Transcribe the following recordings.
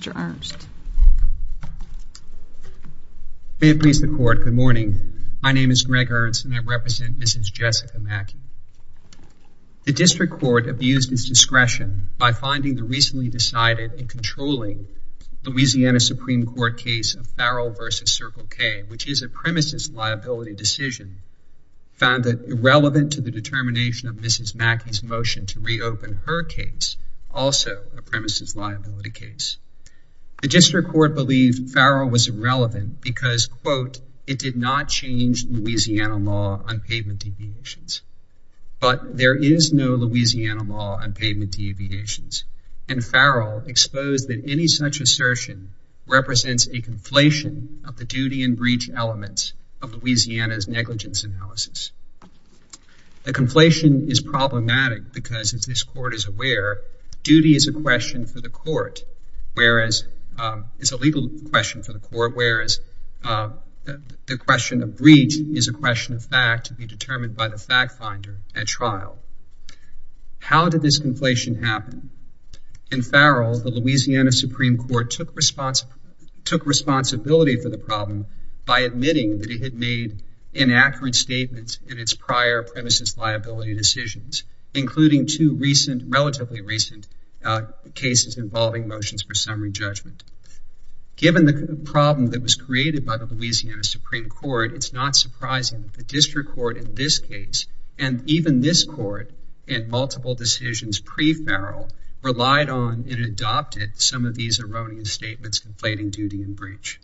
District Court abused its discretion by finding the recently decided and controlling Louisiana Supreme Court case of Farrell v. Circle K, which is a premises liability decision, found that irrelevant to the determination of Mrs. Mackey's motion to reopen her case, also a The district court believed Farrell was irrelevant because, quote, it did not change Louisiana law on pavement deviations. But there is no Louisiana law on pavement deviations, and Farrell exposed that any such assertion represents a conflation of the duty and breach elements of Louisiana's negligence analysis. The conflation is problematic because, as this court is aware, duty is a question for the court, whereas it's a legal question for the court, whereas the question of breach is a question of fact to be determined by the fact finder at trial. How did this conflation happen? In Farrell, the Louisiana Supreme Court took responsibility for the problem by admitting that it had made inaccurate statements in its prior premises liability decisions, including two recent, relatively recent, cases involving motions for summary judgment. Given the problem that was created by the Louisiana Supreme Court, it's not surprising that the district court in this case, and even this court in multiple decisions pre-Farrell, relied on and adopted some of these erroneous statements conflating duty and breach.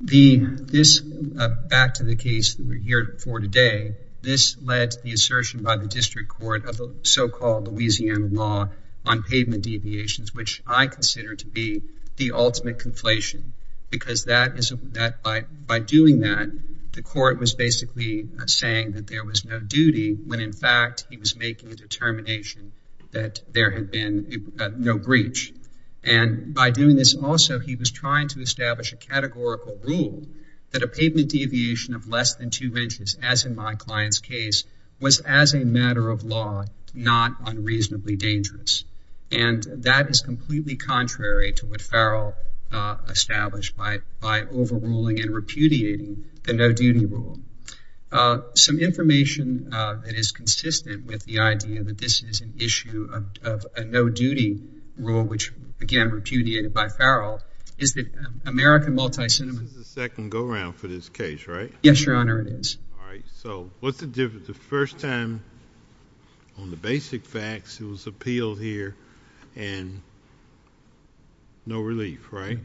Back to the case that we're here for today, this led to the assertion by the district court of the so-called Louisiana law on pavement deviations, which I consider to be the ultimate conflation, because by doing that, the court was basically saying that there was no duty, when in fact he was making a determination that there had been no breach. And by doing this also, he was trying to establish a categorical rule that a pavement deviation of less than two inches, as in my client's case, was as a matter of law, not unreasonably dangerous. And that is completely contrary to what Farrell established by overruling and repudiating the no duty rule. Some information that is consistent with the idea that this is an issue of a no duty rule, which again, repudiated by Farrell, is that American multi-cinema. This is the second go-round for this case, right? Yes, Your Honor, it is. All right, so what's the difference? The first time on the basic facts, it was appealed here, and no relief, right?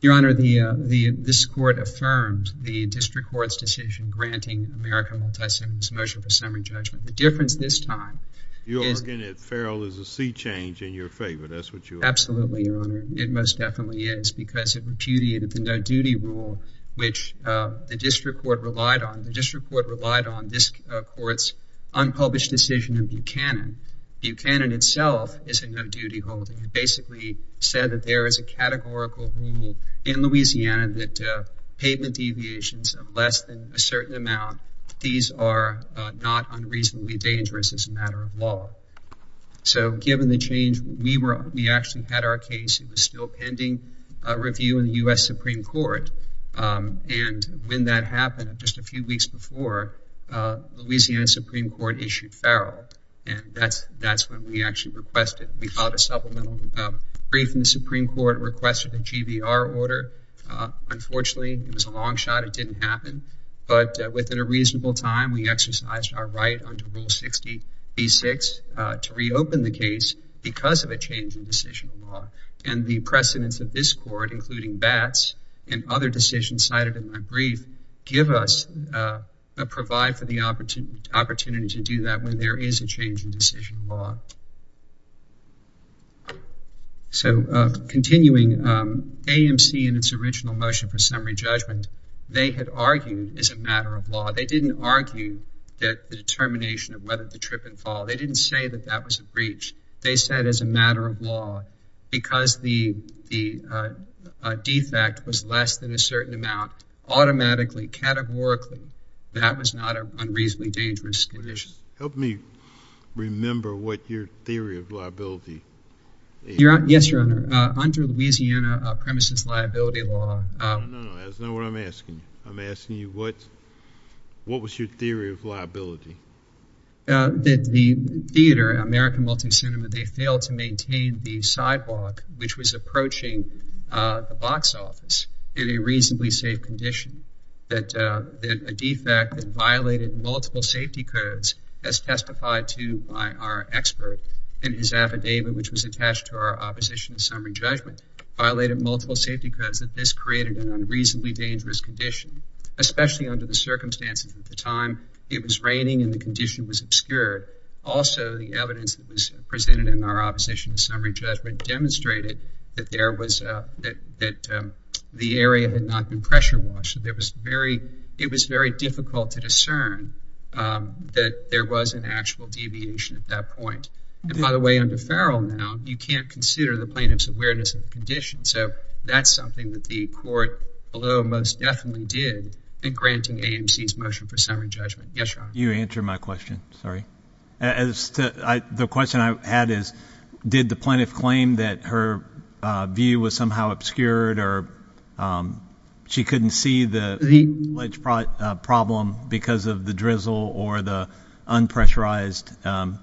Your Honor, this court affirmed the district court's decision granting American multi-cinema this motion for summary judgment. The difference this time is... Your Honor, Farrell is a sea change in your favor, that's what you are... Absolutely, Your Honor, it most definitely is, because it repudiated the no duty rule, which the district court relied on. The district court relied on this court's unpublished decision in Buchanan. Buchanan itself is a no duty holding. It basically said that there is a certain amount. These are not unreasonably dangerous as a matter of law. So given the change, we actually had our case. It was still pending review in the U.S. Supreme Court, and when that happened, just a few weeks before, Louisiana Supreme Court issued Farrell, and that's when we actually requested. We filed a supplemental brief, and the Supreme Court requested a GBR order. Unfortunately, it was a long shot, it didn't happen, but within a reasonable time, we exercised our right under Rule 60B6 to reopen the case because of a change in decision law. And the precedents of this court, including Batts and other decisions cited in my brief, give us, provide for the opportunity to do that when there is a change in decision law. So continuing, AMC in its original motion for summary judgment, they had argued as a matter of law. They didn't argue that the determination of whether the trip and fall, they didn't say that that was a breach. They said as a matter of law, because the defect was less than a certain amount, automatically, categorically, that was not an unreasonably dangerous condition. Help me remember what your theory of liability is. Yes, Your Honor. Under Louisiana premises liability law... No, no, no, that's not what I'm asking. I'm asking you what was your theory of liability? That the theater, American Multicinema, they failed to maintain the sidewalk which was approaching the box office in a reasonably safe condition. That a defect that violated multiple safety codes, as testified to by our expert in his affidavit, which was attached to our opposition to summary judgment, violated multiple safety codes that this created an unreasonably dangerous condition. Especially under the circumstances at the time, it was raining and the condition was obscured. Also, the evidence that was presented in our opposition to summary judgment demonstrated that the area had not been pressure washed. It was very difficult to discern that there was an actual deviation at that point. And by the way, under Farrell now, you can't consider the plaintiff's awareness of the condition. So that's something that the court, although most definitely did, in granting AMC's motion for summary judgment. Yes, Your Honor. You answered my question, sorry. The question I had is, did the plaintiff claim that her view was somehow obscured or she couldn't see the problem because of the drizzle or the unpressurized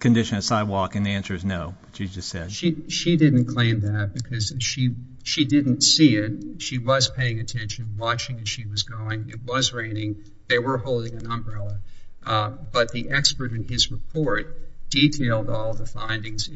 condition of sidewalk? And the answer is no, she just said. She didn't claim that because she didn't see it. She was paying attention, watching as she was going. It was an umbrella. But the expert in his report detailed all the findings.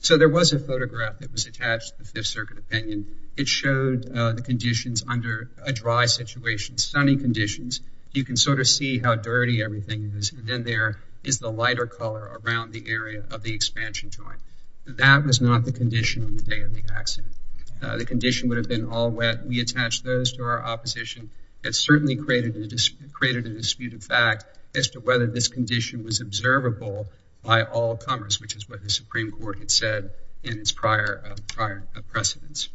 So there was a photograph that was attached to the Fifth Circuit opinion. It showed the conditions under a dry situation, sunny conditions. You can sort of see how dirty everything is. And then there is the lighter color around the area of the expansion joint. That was not the condition on the day of the accident. The condition would have been all wet. We attached those to our opposition. It certainly created a disputed fact as to whether this condition was observable by all comers, which is what the Supreme Court had said in its prior precedence.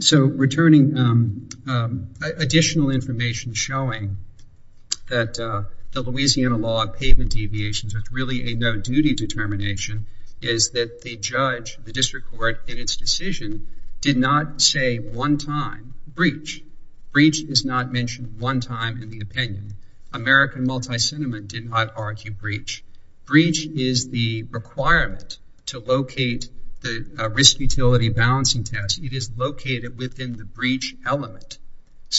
So returning additional information showing that the Louisiana law of payment deviations was really no-duty determination is that the judge, the district court, in its decision did not say one time breach. Breach is not mentioned one time in the opinion. American multi-sentiment did not argue breach. Breach is the requirement to locate the risk utility balancing test. It is located within the breach element.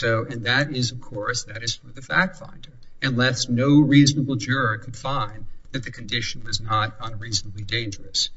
And that is, of course, that is for the fact finder. Unless no reasonable juror could find that the condition was not unreasonably dangerous.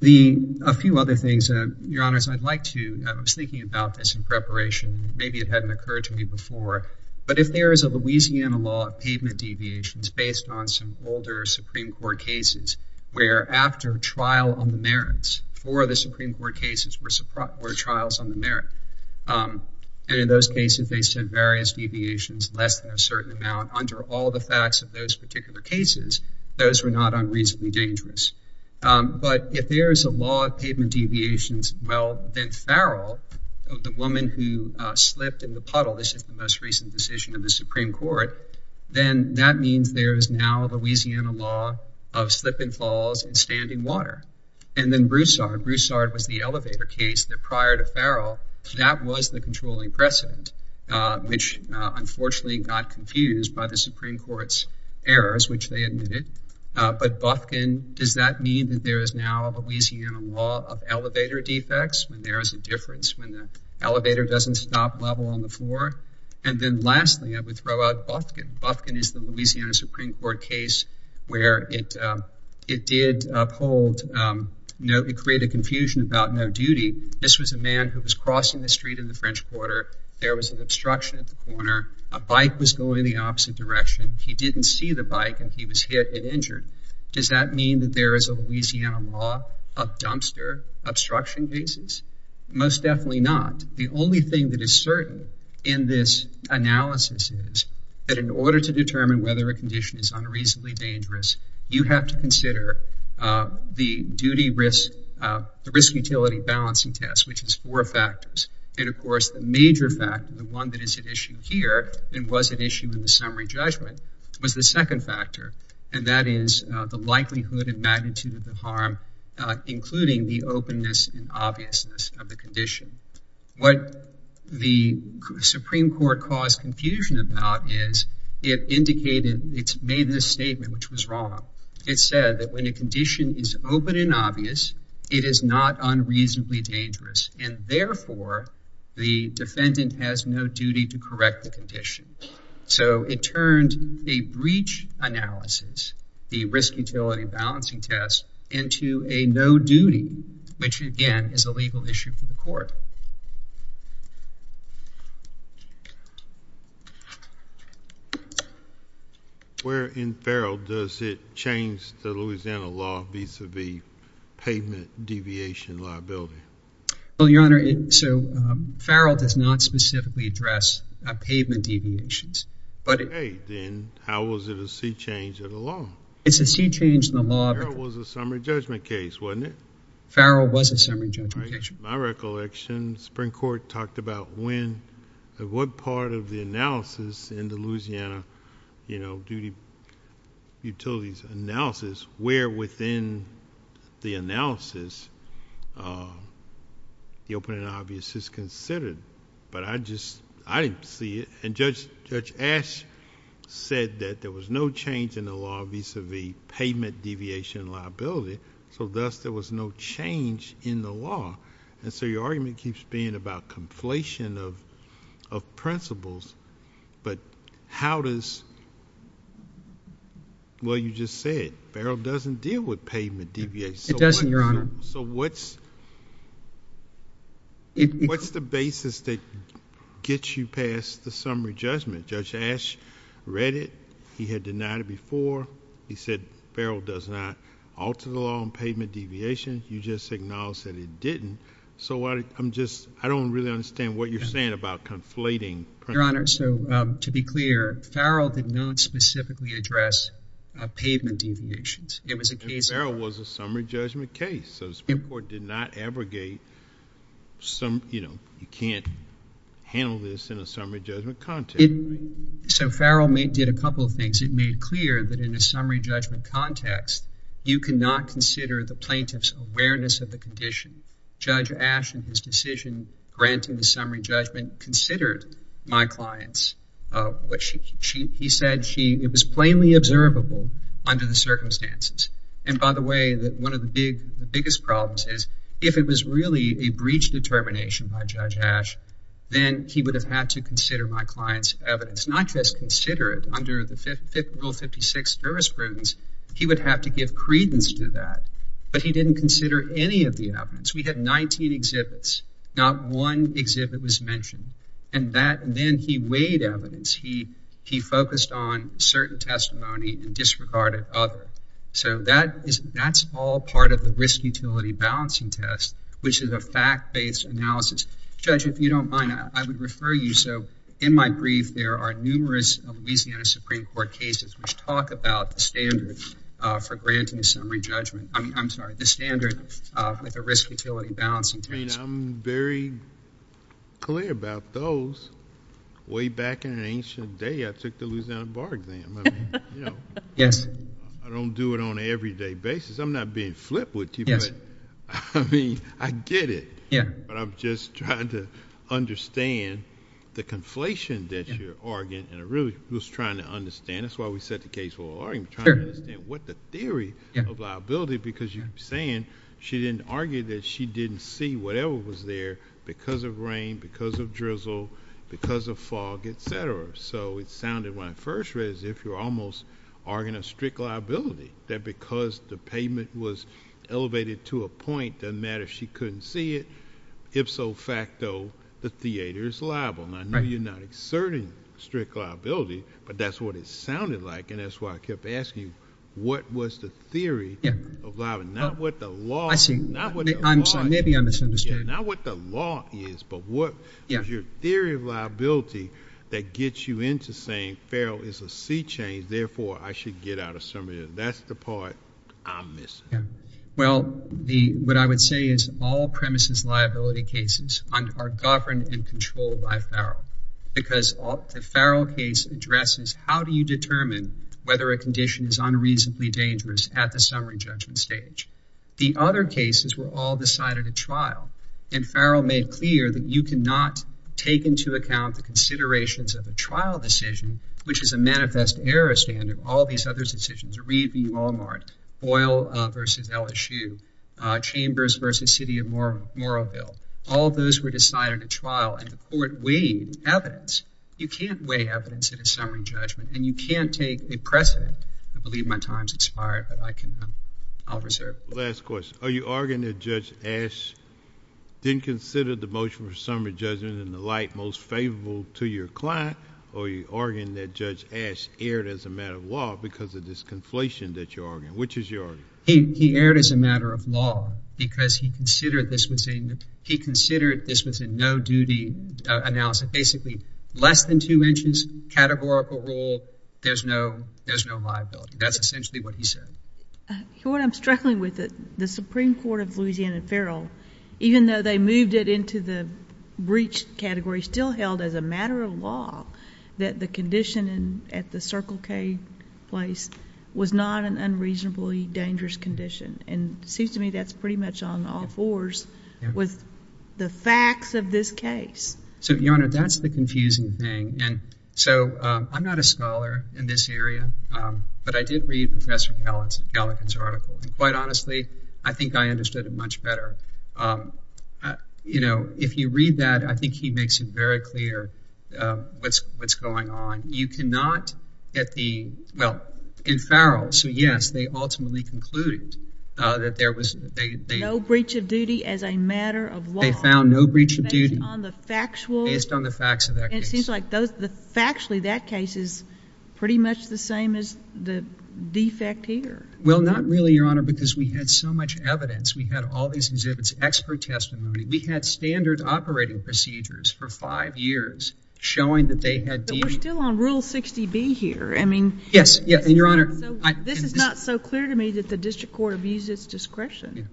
The, a few other things, Your Honors, I'd like to, I was thinking about this in preparation. Maybe it hadn't occurred to me before. But if there is a Louisiana law of payment deviations based on some older Supreme Court cases, where after trial on the merits, four of the Supreme Court cases were trials on the merit. And in those cases, they said various deviations, less than a certain amount. Under all the facts of those particular cases, those were not unreasonably dangerous. But if there is a law of payment deviations, well, then Farrell, the woman who slipped in the puddle, this is the most recent decision in the Supreme Court, then that means there is now a Louisiana law of slip and falls and standing water. And then Broussard. Broussard was the elevator case that prior to Farrell, that was the controlling precedent, which unfortunately got confused by the Supreme Court's errors, which they admitted. But Bufkin, does that mean that there is now a Louisiana law of elevator defects, when there is a difference, when the elevator doesn't stop level on the floor? And then lastly, I would throw out Bufkin. Bufkin is the Louisiana Supreme Court case where it did create a confusion about no duty. This was a man who was crossing the street in the French Quarter. There was an obstruction at the corner. A bike was going the opposite direction. He didn't see the bike, and he was hit and injured. Does that mean that there is a Louisiana law of dumpster obstruction cases? Most definitely not. The only thing that is certain in this analysis is that in order to determine whether a condition is unreasonably dangerous, you have to consider the duty risk, the risk utility balancing test, which has four factors. And of course, the major factor, the one that is at issue here, and was at issue in the summary judgment, was the second factor. And that is the likelihood and magnitude of the harm, including the openness and obviousness of the condition. What the Supreme Court caused confusion about is it indicated, it's made this statement, which was wrong. It said that when a condition is open and obvious, it is not unreasonably dangerous. And therefore, the defendant has no duty to correct the condition. So it turned a breach analysis, the risk utility balancing test, into a no duty, which again, is a legal issue for the court. Where in Farrell does it change the Louisiana law vis-a-vis pavement deviation liability? Well, Your Honor, so Farrell does not specifically address pavement deviations. Okay, then how was it a sea change in the law? It's a sea change in the law. Farrell was a summary judgment case, wasn't it? Farrell was a summary judgment case. My recollection, the Supreme Court talked about when, what part of the analysis in the Louisiana duty utilities analysis, where within the analysis, the openness and obviousness is considered. But I just, I didn't see it. And Judge Ash said that there was no change in the law vis-a-vis pavement deviation liability. So thus, there was no change in the law. And so your argument keeps being about conflation of principles. But how does, well, you just said, Farrell doesn't deal with pavement deviations. It doesn't, Your Honor. So what's the basis that gets you past the summary judgment? Judge Ash read it. He had denied it before. He said, Farrell does not alter the law on pavement deviations. You just acknowledged that he didn't. So I'm just, I don't really understand what you're saying about conflating principles. Your Honor, so to be clear, Farrell did not specifically address pavement deviations. It was a case of- And Farrell was a summary judgment case. So the Supreme Court did not abrogate some, you know, you can't handle this in a summary judgment context. So Farrell did a couple of things. It made clear that in a summary judgment context, you cannot consider the plaintiff's awareness of the condition. Judge Ash, in his decision granting the summary judgment, considered my clients. He said it was plainly observable under the circumstances. And by the way, that one of the biggest problems is if it was really a breach determination by Judge Ash, then he would have had to consider my client's evidence, not just consider it under the Fifth Rule 56 jurisprudence. He would have to give credence to that. But he didn't consider any of the evidence. We had 19 exhibits. Not one exhibit was mentioned. And then he weighed evidence. He focused on certain testimony and disregarded others. So that's all part of the risk-utility balancing test, which is a fact-based analysis. Judge, if you don't mind, I would refer you. So in my brief, there are numerous Louisiana Supreme Court cases which talk about the standard for granting a summary judgment. I'm sorry, the standard with a risk-utility balancing test. I mean, I'm very clear about those. Way back in an ancient day, I took the Louisiana bar exam. I mean, you know. Yes. I don't do it on an everyday basis. I'm not being flipped with people. I mean, I get it. But I'm just trying to understand the conflation that you're arguing. And I really was trying to understand. That's why we set the case for an argument. Trying to understand what the theory of liability, because you're saying she didn't argue that she didn't see whatever was there because of rain, because of drizzle, because of fog, et cetera. So it sounded, when I first read it, as if you're arguing a strict liability, that because the pavement was elevated to a point, it doesn't matter if she couldn't see it. Ifso facto, the theater is liable. Now, I know you're not exerting strict liability, but that's what it sounded like. And that's why I kept asking you, what was the theory of liability? Not what the law is, but what is your theory of liability that gets you into saying Farrell is a C-chain, therefore, I should get out of some of this? That's the part I'm missing. Well, what I would say is all premises liability cases are governed and controlled by Farrell. Because the Farrell case addresses how do you determine whether a condition is unreasonably dangerous at the summary judgment stage. The other cases were all decided at trial. And trial decision, which is a manifest error standard, all these other decisions, Reed v. Walmart, Boyle v. LSU, Chambers v. City of Morroville, all those were decided at trial. And the court weighed evidence. You can't weigh evidence at a summary judgment. And you can't take a precedent. I believe my time's expired, but I'll reserve it. Last question. Are you arguing that Judge Ash didn't consider the motion for summary judgment and the like most favorable to your client? Or are you arguing that Judge Ash erred as a matter of law because of this conflation that you're arguing? Which is your argument? He erred as a matter of law because he considered this was a no-duty analysis. Basically, less than two inches, categorical rule, there's no liability. That's essentially what he said. Your Honor, I'm struggling with it. The Supreme Court of Louisiana and Farrell, even though they moved it into the breach category, still held as a matter of law that the condition at the Circle K place was not an unreasonably dangerous condition. And it seems to me that's pretty much on all fours with the facts of this case. So, Your Honor, that's the confusing thing. And so, I'm not a scholar in this area, but I did read Professor Galligan's article. And quite honestly, I think I understood it much better. You know, if you read that, I think he makes it very clear what's going on. You cannot at the, well, in Farrell, so yes, they ultimately concluded that there was, they, No breach of duty as a matter of law. They found no breach of duty. Based on the factual. Based on the facts of that case. It seems like those, factually, that case is pretty much the same as the defect here. Well, not really, Your Honor, because we had so much evidence. We had all these exhibits, expert testimony. We had standard operating procedures for five years showing that they had. But we're still on Rule 60B here. I mean. Yes, yes, and Your Honor. This is not so clear to me that the district court abused its discretion.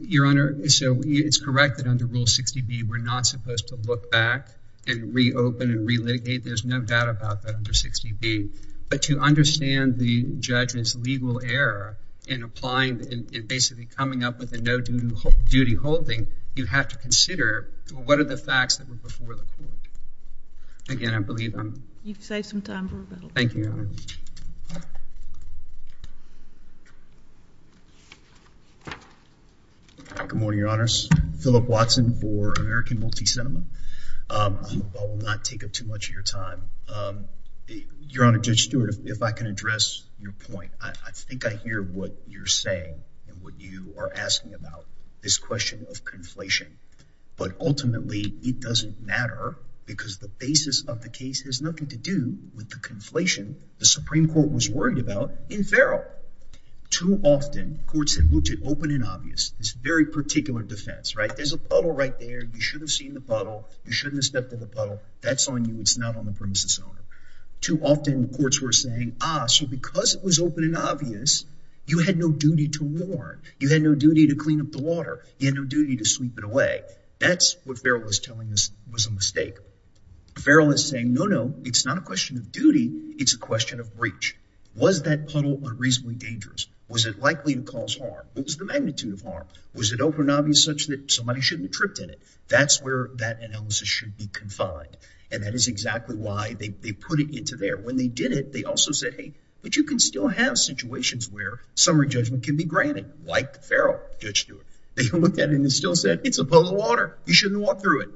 Your Honor, so it's correct that under Rule 60B, we're not supposed to look back and reopen and relitigate. There's no doubt about that under 60B. But to understand the judge's legal error in applying, in basically coming up with a no duty holding, you have to consider what are the facts that were before the court. Again, I believe I'm. You've saved some time for rebuttal. Thank you, Your Honor. Good morning, Your Honors. Philip Watson for American Multicinema. I hope I will not take up too much of your time. Um, Your Honor, Judge Stewart, if I can address your point, I think I hear what you're saying and what you are asking about this question of conflation. But ultimately, it doesn't matter because the basis of the case has nothing to do with the conflation the Supreme Court was worried about in Farrell. Too often, courts have looked at open and obvious. This very particular defense, right? There's a puddle right there. You should have seen the puddle. You shouldn't have stepped in the puddle. That's on you. It's not on the premises owner. Too often, courts were saying, ah, so because it was open and obvious, you had no duty to warn. You had no duty to clean up the water. You had no duty to sweep it away. That's what Farrell was telling us was a mistake. Farrell is saying, no, no, it's not a question of duty. It's a question of breach. Was that puddle unreasonably dangerous? Was it likely to cause harm? What was the magnitude of harm? Was it open and obvious such that somebody shouldn't have tripped in it? That's where that analysis should be confined, and that is exactly why they put it into there. When they did it, they also said, hey, but you can still have situations where summary judgment can be granted, like Farrell, Judge Stewart. They looked at it and still said, it's a puddle of water. You shouldn't walk through it.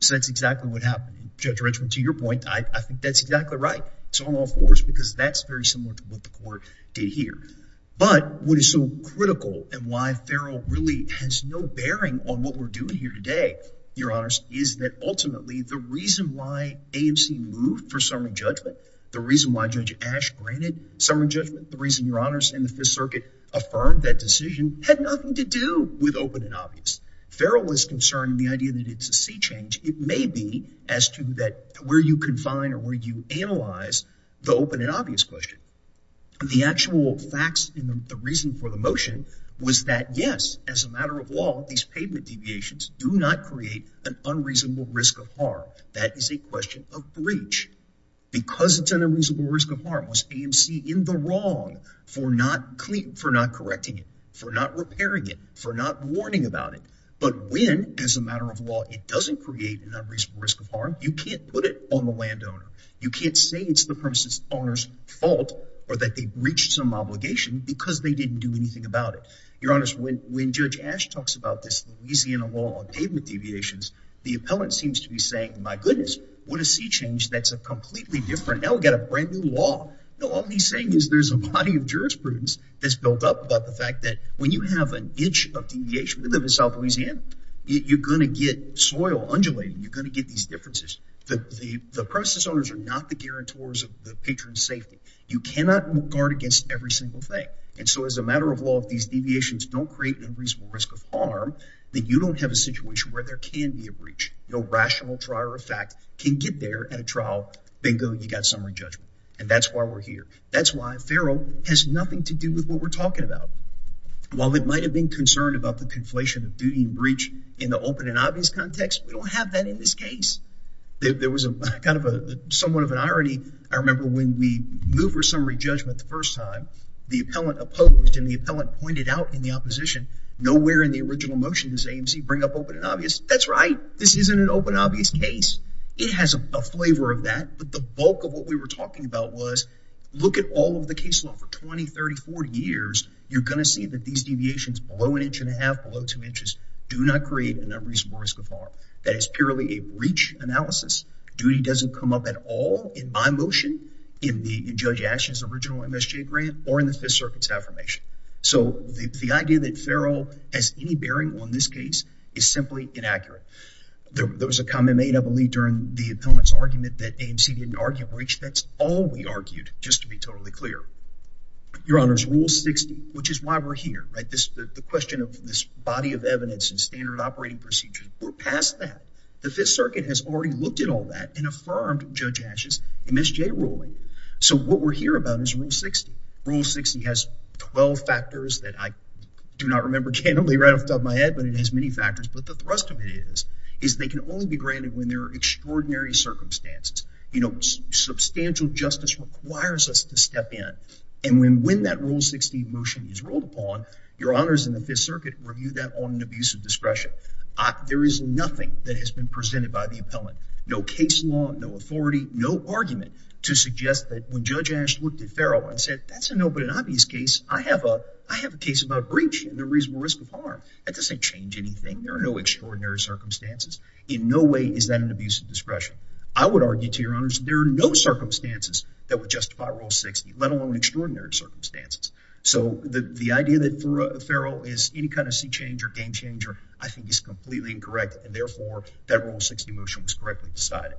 So that's exactly what happened. Judge Richmond, to your point, I think that's exactly right. It's on all fours because that's very similar to what the court did here. But what is so critical and why Farrell really has no bearing on what we're doing here today, Your Honors, is that ultimately the reason why AMC moved for summary judgment, the reason why Judge Ash granted summary judgment, the reason, Your Honors, and the Fifth Circuit affirmed that decision had nothing to do with open and obvious. Farrell was concerned the idea that it's a sea change. It may be as to that where you confine or where you analyze the open and obvious question. The actual facts and the reason for the motion was that, yes, as a matter of law, these pavement deviations do not create an unreasonable risk of harm. That is a question of breach. Because it's an unreasonable risk of harm, was AMC in the wrong for not correcting it, for not repairing it, for not warning about it? But when, as a matter of law, it doesn't create an unreasonable risk of harm, you can't put it on the landowner. You can't say it's the premises owner's fault or that they breached some obligation because they didn't do anything about it. Your Honors, when Judge Ash talks about this Louisiana law on pavement deviations, the appellant seems to be saying, my goodness, what a sea change that's a completely different, now we've got a brand new law. No, all he's saying is there's a body of jurisprudence that's built up about the fact that when you have an inch of deviation, we live in South Louisiana, you're going to get soil undulating. You're going to get these differences. The premises owners are not the guarantors of the patron's safety. You cannot guard against every single thing. And so, as a matter of law, if these deviations don't create an unreasonable risk of harm, then you don't have a situation where there can be a breach. No rational trial or fact can get there at a trial. Bingo, you got summary judgment. And that's why we're here. That's why FARO has nothing to do with what we're talking about. While it might have been concerned about the conflation of duty and breach in the open and obvious context, we don't have that in this case. There was a kind of a somewhat of an irony. I remember when we moved for summary judgment the first time, the appellant opposed and the appellant pointed out in the opposition, nowhere in the original motion does AMC bring up open and obvious. That's right. This isn't an open and obvious case. It has a flavor of that. But the bulk of what we were talking about was, look at all of the case law for 20, 30, 40 years. You're going to see that these deviations below an inch and a half, below two inches, do not create an unreasonable risk of harm. That is purely a breach analysis. Duty doesn't come up at all in my motion, in Judge Ashen's original MSJ grant, or in the Fifth Circuit's affirmation. So the idea that FARO has any bearing on this case is simply inaccurate. There was a comment made, I believe, during the appellant's argument that AMC didn't argue a breach. That's all we argued, just to be totally clear. Your Honor's Rule 60, which is why we're here, right? The question of this body of evidence and standard operating procedures. We're past that. The Fifth Circuit has already looked at all that and affirmed Judge Ashen's ruling. So what we're here about is Rule 60. Rule 60 has 12 factors that I do not remember, can only run off the top of my head, but it has many factors. But the thrust of it is, is they can only be granted when there are extraordinary circumstances. You know, substantial justice requires us to step in. And when that Rule 60 motion is rolled upon, Your Honors in the Fifth Circuit review that on an abuse of discretion. There is nothing that has been presented by the appellant. No case law, no authority, no argument to suggest that when Judge Ashen looked at Farrell and said, that's a no but an obvious case. I have a case about breach and the reasonable risk of harm. That doesn't change anything. There are no extraordinary circumstances. In no way is that an abuse of discretion. I would argue to Your Honors, there are no circumstances that would justify Rule 60, let alone extraordinary circumstances. So the idea that Farrell is any kind of sea change or game changer, I think is completely incorrect. And therefore that Rule 60 motion was correctly decided.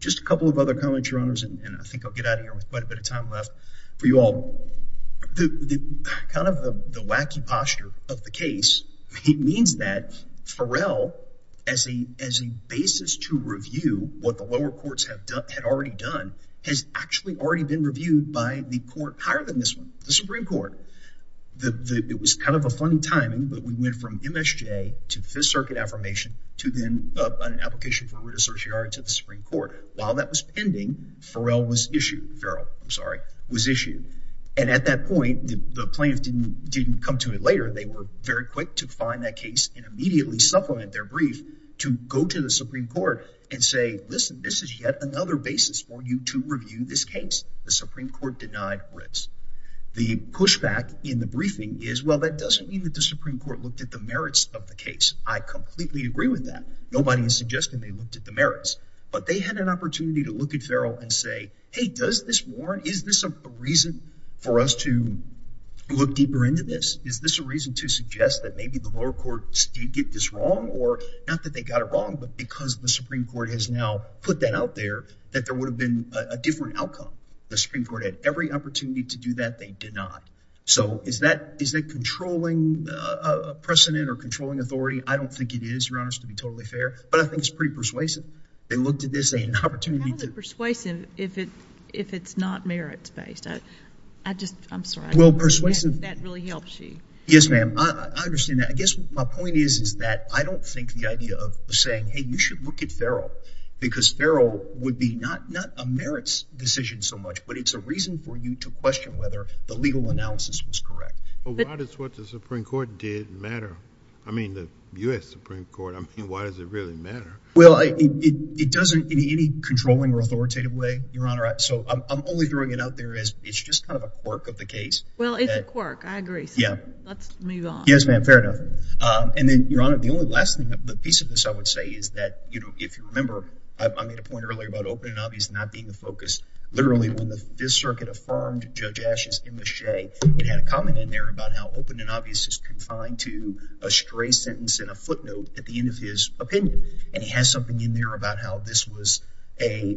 Just a couple of other comments, Your Honors. And I think I'll get out of here with quite a bit of time left for you all. Kind of the wacky posture of the case means that Farrell, as a basis to review what the lower courts had already done, has actually already been reviewed by the court higher than this one, the Supreme Court. It was kind of a funny timing, but we went from MSJ to Fifth Circuit affirmation to then an application for writ of certiorari to the Supreme Court. While that was pending, Farrell was issued. Farrell, I'm sorry, was issued. And at that point, the plaintiffs didn't come to it later. They were very quick to find that case and immediately supplement their brief to go to the Supreme Court and say, listen, this is yet another basis for you to review this case. The Supreme Court denied writs. The pushback in the briefing is, that doesn't mean that the Supreme Court looked at the merits of the case. I completely agree with that. Nobody is suggesting they looked at the merits, but they had an opportunity to look at Farrell and say, hey, does this warrant? Is this a reason for us to look deeper into this? Is this a reason to suggest that maybe the lower courts did get this wrong? Or not that they got it wrong, but because the Supreme Court has now put that out there, that there would have been a different outcome. The Supreme Court had every opportunity to do that. They did not. So is that controlling precedent or controlling authority? I don't think it is, Your Honor, to be totally fair. But I think it's pretty persuasive. They looked at this, they had an opportunity to- How is it persuasive if it's not merits-based? I just, I'm sorry. Well, persuasive- That really helps you. Yes, ma'am. I understand that. I guess my point is that I don't think the idea of saying, hey, you should look at Farrell, because Farrell would be not a merits decision so much, but it's a reason for you to question whether the legal analysis was correct. But why does what the Supreme Court did matter? I mean, the U.S. Supreme Court. I mean, why does it really matter? Well, it doesn't in any controlling or authoritative way, Your Honor. So I'm only throwing it out there as it's just kind of a quirk of the case. Well, it's a quirk. I agree. So let's move on. Yes, ma'am. Fair enough. And then, Your Honor, the only last thing, the piece of this I would say is that, you know, if you remember, I made a point earlier about open and obvious not being the focus, literally, when this circuit affirmed Judge Asch's imache, it had a comment in there about how open and obvious is confined to a stray sentence and a footnote at the end of his opinion. And he has something in there about how this was a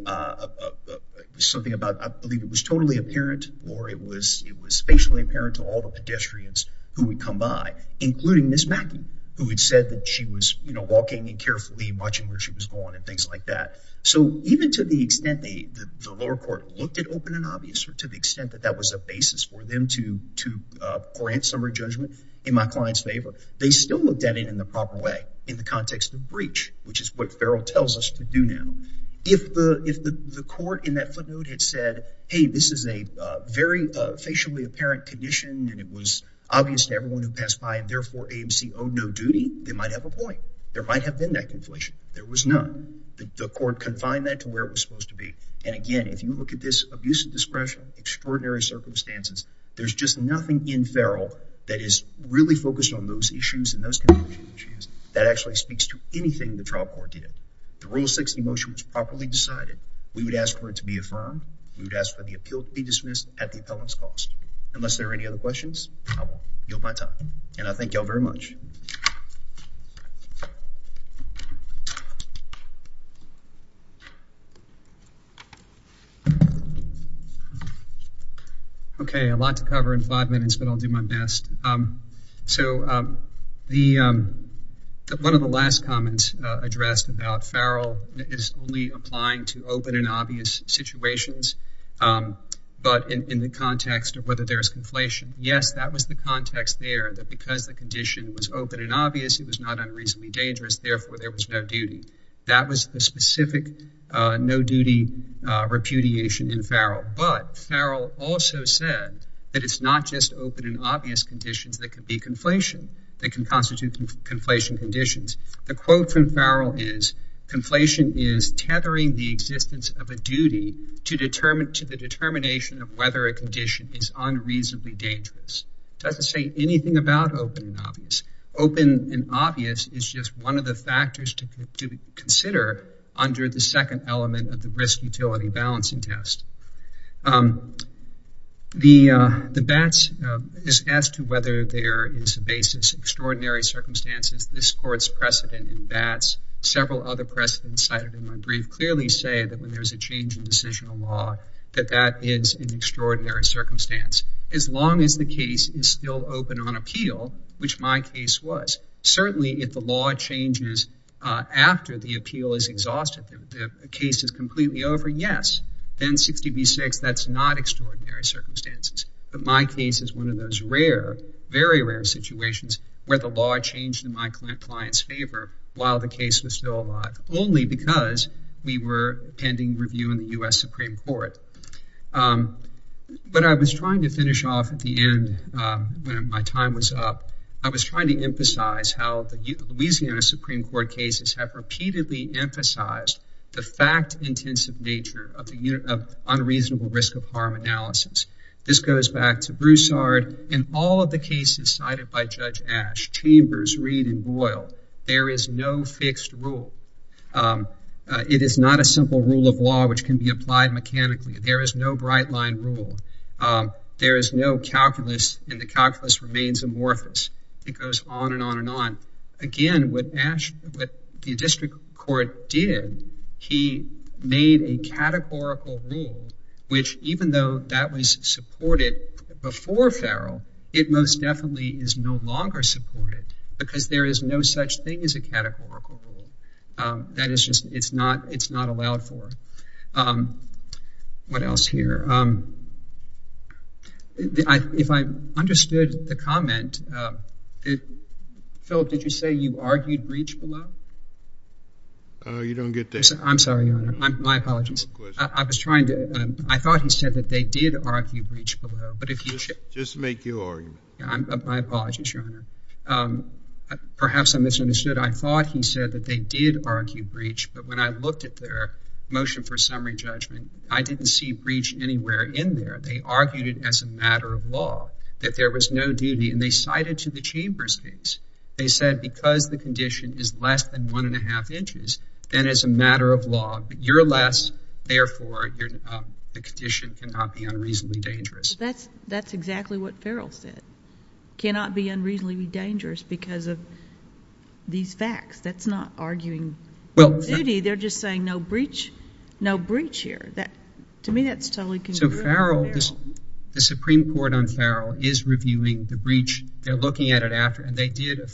something about, I believe it was totally apparent, or it was spatially apparent to all the pedestrians who would come by, including Ms. Mackey, who had said that she was, you know, walking and carefully watching where she was going and things like that. So even to the extent the lower court looked at open and obvious, or to the extent that that was a basis for them to grant summary judgment in my client's favor, they still looked at it in the proper way, in the context of breach, which is what Farrell tells us to do now. If the court in that footnote had said, hey, this is a very facially apparent condition, and it was obvious to everyone who passed by, and therefore AMC owed no duty, they might have a point. There might have been that conflation. There was none. The court confined that to where it was supposed to be. And again, if you look at this abuse of discretion, extraordinary circumstances, there's just nothing in Farrell that is really focused on those issues and those conditions that actually speaks to anything the trial court did. The Rule 60 motion was properly decided. We would ask for it to be affirmed. We would ask for the appeal to be dismissed at the appellant's cost. Unless there are any other questions, I will yield my time. And I thank you all very much. Okay, a lot to cover in five minutes, but I'll do my best. So one of the last comments addressed about Farrell is only applying to open and obvious situations, but in the context of whether there's conflation. Yes, that was the context there. Because the condition was open and obvious, it was not unreasonably dangerous. Therefore, there was no duty. That was the specific no-duty repudiation in Farrell. But Farrell also said that it's not just open and obvious conditions that could be conflation, that can constitute conflation conditions. The quote from Farrell is, conflation is tethering the existence of a duty to the determination of whether a condition is unreasonably dangerous. Doesn't say anything about open and obvious. Open and obvious is just one of the factors to consider under the second element of the risk utility balancing test. The BATS is asked to whether there is a basis, extraordinary circumstances. This court's precedent in BATS, several other precedents cited in my brief, clearly say that when there's a change in decisional law, that that is an extraordinary circumstance. As long as the case is still open on appeal, which my case was. Certainly, if the law changes after the appeal is exhausted, the case is completely over, yes. Then 60 v. 6, that's not extraordinary circumstances. But my case is one of those rare, very rare situations where the law changed in my client's favor while the case was still alive, only because we were pending review in the U.S. Supreme Court. But I was trying to finish off at the end, when my time was up. I was trying to emphasize how the Louisiana Supreme Court cases have repeatedly emphasized the fact-intensive nature of unreasonable risk of harm analysis. This goes back to Broussard. In all of the cases cited by Judge Ash, Chambers, Reed, and Boyle, there is no fixed rule. It is not a simple rule of law which can be applied mechanically. There is no bright-line rule. There is no calculus, and the calculus remains amorphous. It goes on and on and on. Again, what the district court did, he made a categorical rule, which, even though that was supported before Farrell, it most definitely is no longer supported, because there is no such thing as a categorical rule. That is just, it's not allowed for. Um, what else here? If I understood the comment, Philip, did you say you argued breach below? Oh, you don't get that. I'm sorry, Your Honor. My apologies. I was trying to, I thought he said that they did argue breach below, but if you should- Just make your argument. Yeah, my apologies, Your Honor. Perhaps I misunderstood. I thought he said that they did argue breach, but when I looked at their motion for summary judgment, I didn't see breach anywhere in there. They argued it as a matter of law, that there was no duty, and they cited to the Chamber's case. They said because the condition is less than one and a half inches, then as a matter of law, you're less, therefore, the condition cannot be unreasonably dangerous. That's exactly what Farrell said. Cannot be unreasonably dangerous because of these facts. That's not arguing- Duty, they're just saying no breach here. To me, that's totally- So Farrell, the Supreme Court on Farrell is reviewing the breach. They're looking at it after, and they did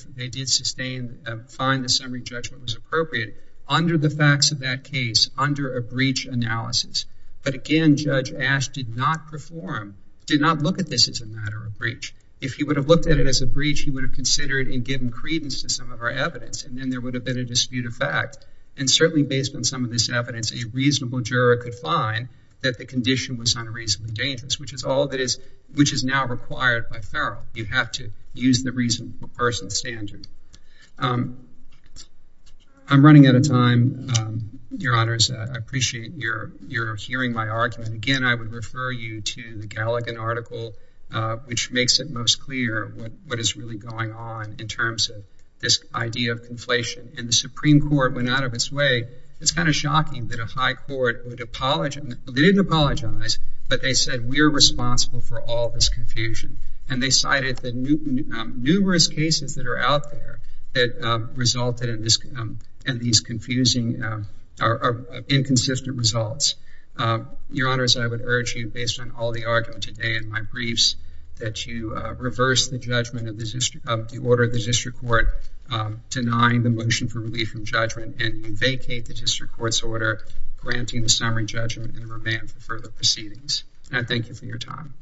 sustain, find the summary judgment was appropriate under the facts of that case, under a breach analysis. But again, Judge Ash did not perform, did not look at this as a matter of breach. If he would have looked at it as a breach, he would have considered and given credence to some of our evidence, and then there would have been a dispute of fact. And certainly, based on some of this evidence, a reasonable juror could find that the condition was unreasonably dangerous, which is all that is, which is now required by Farrell. You have to use the reasonable person standard. I'm running out of time, Your Honors. I appreciate your hearing my argument. Again, I would refer you to the Galligan article, which makes it most clear what is really going on in terms of this idea of conflation. And the Supreme Court went out of its way. It's kind of shocking that a high court would apologize. They didn't apologize, but they said, we are responsible for all this confusion. And they cited the numerous cases that are out there that resulted in these confusing or inconsistent results. Your Honors, I would urge you, based on all the argument today in my briefs, that you reverse the judgment of the order of the District Court denying the motion for relief from judgment and vacate the District Court's order, granting the summary judgment and remand for further proceedings. And I thank you for your time. Thank you.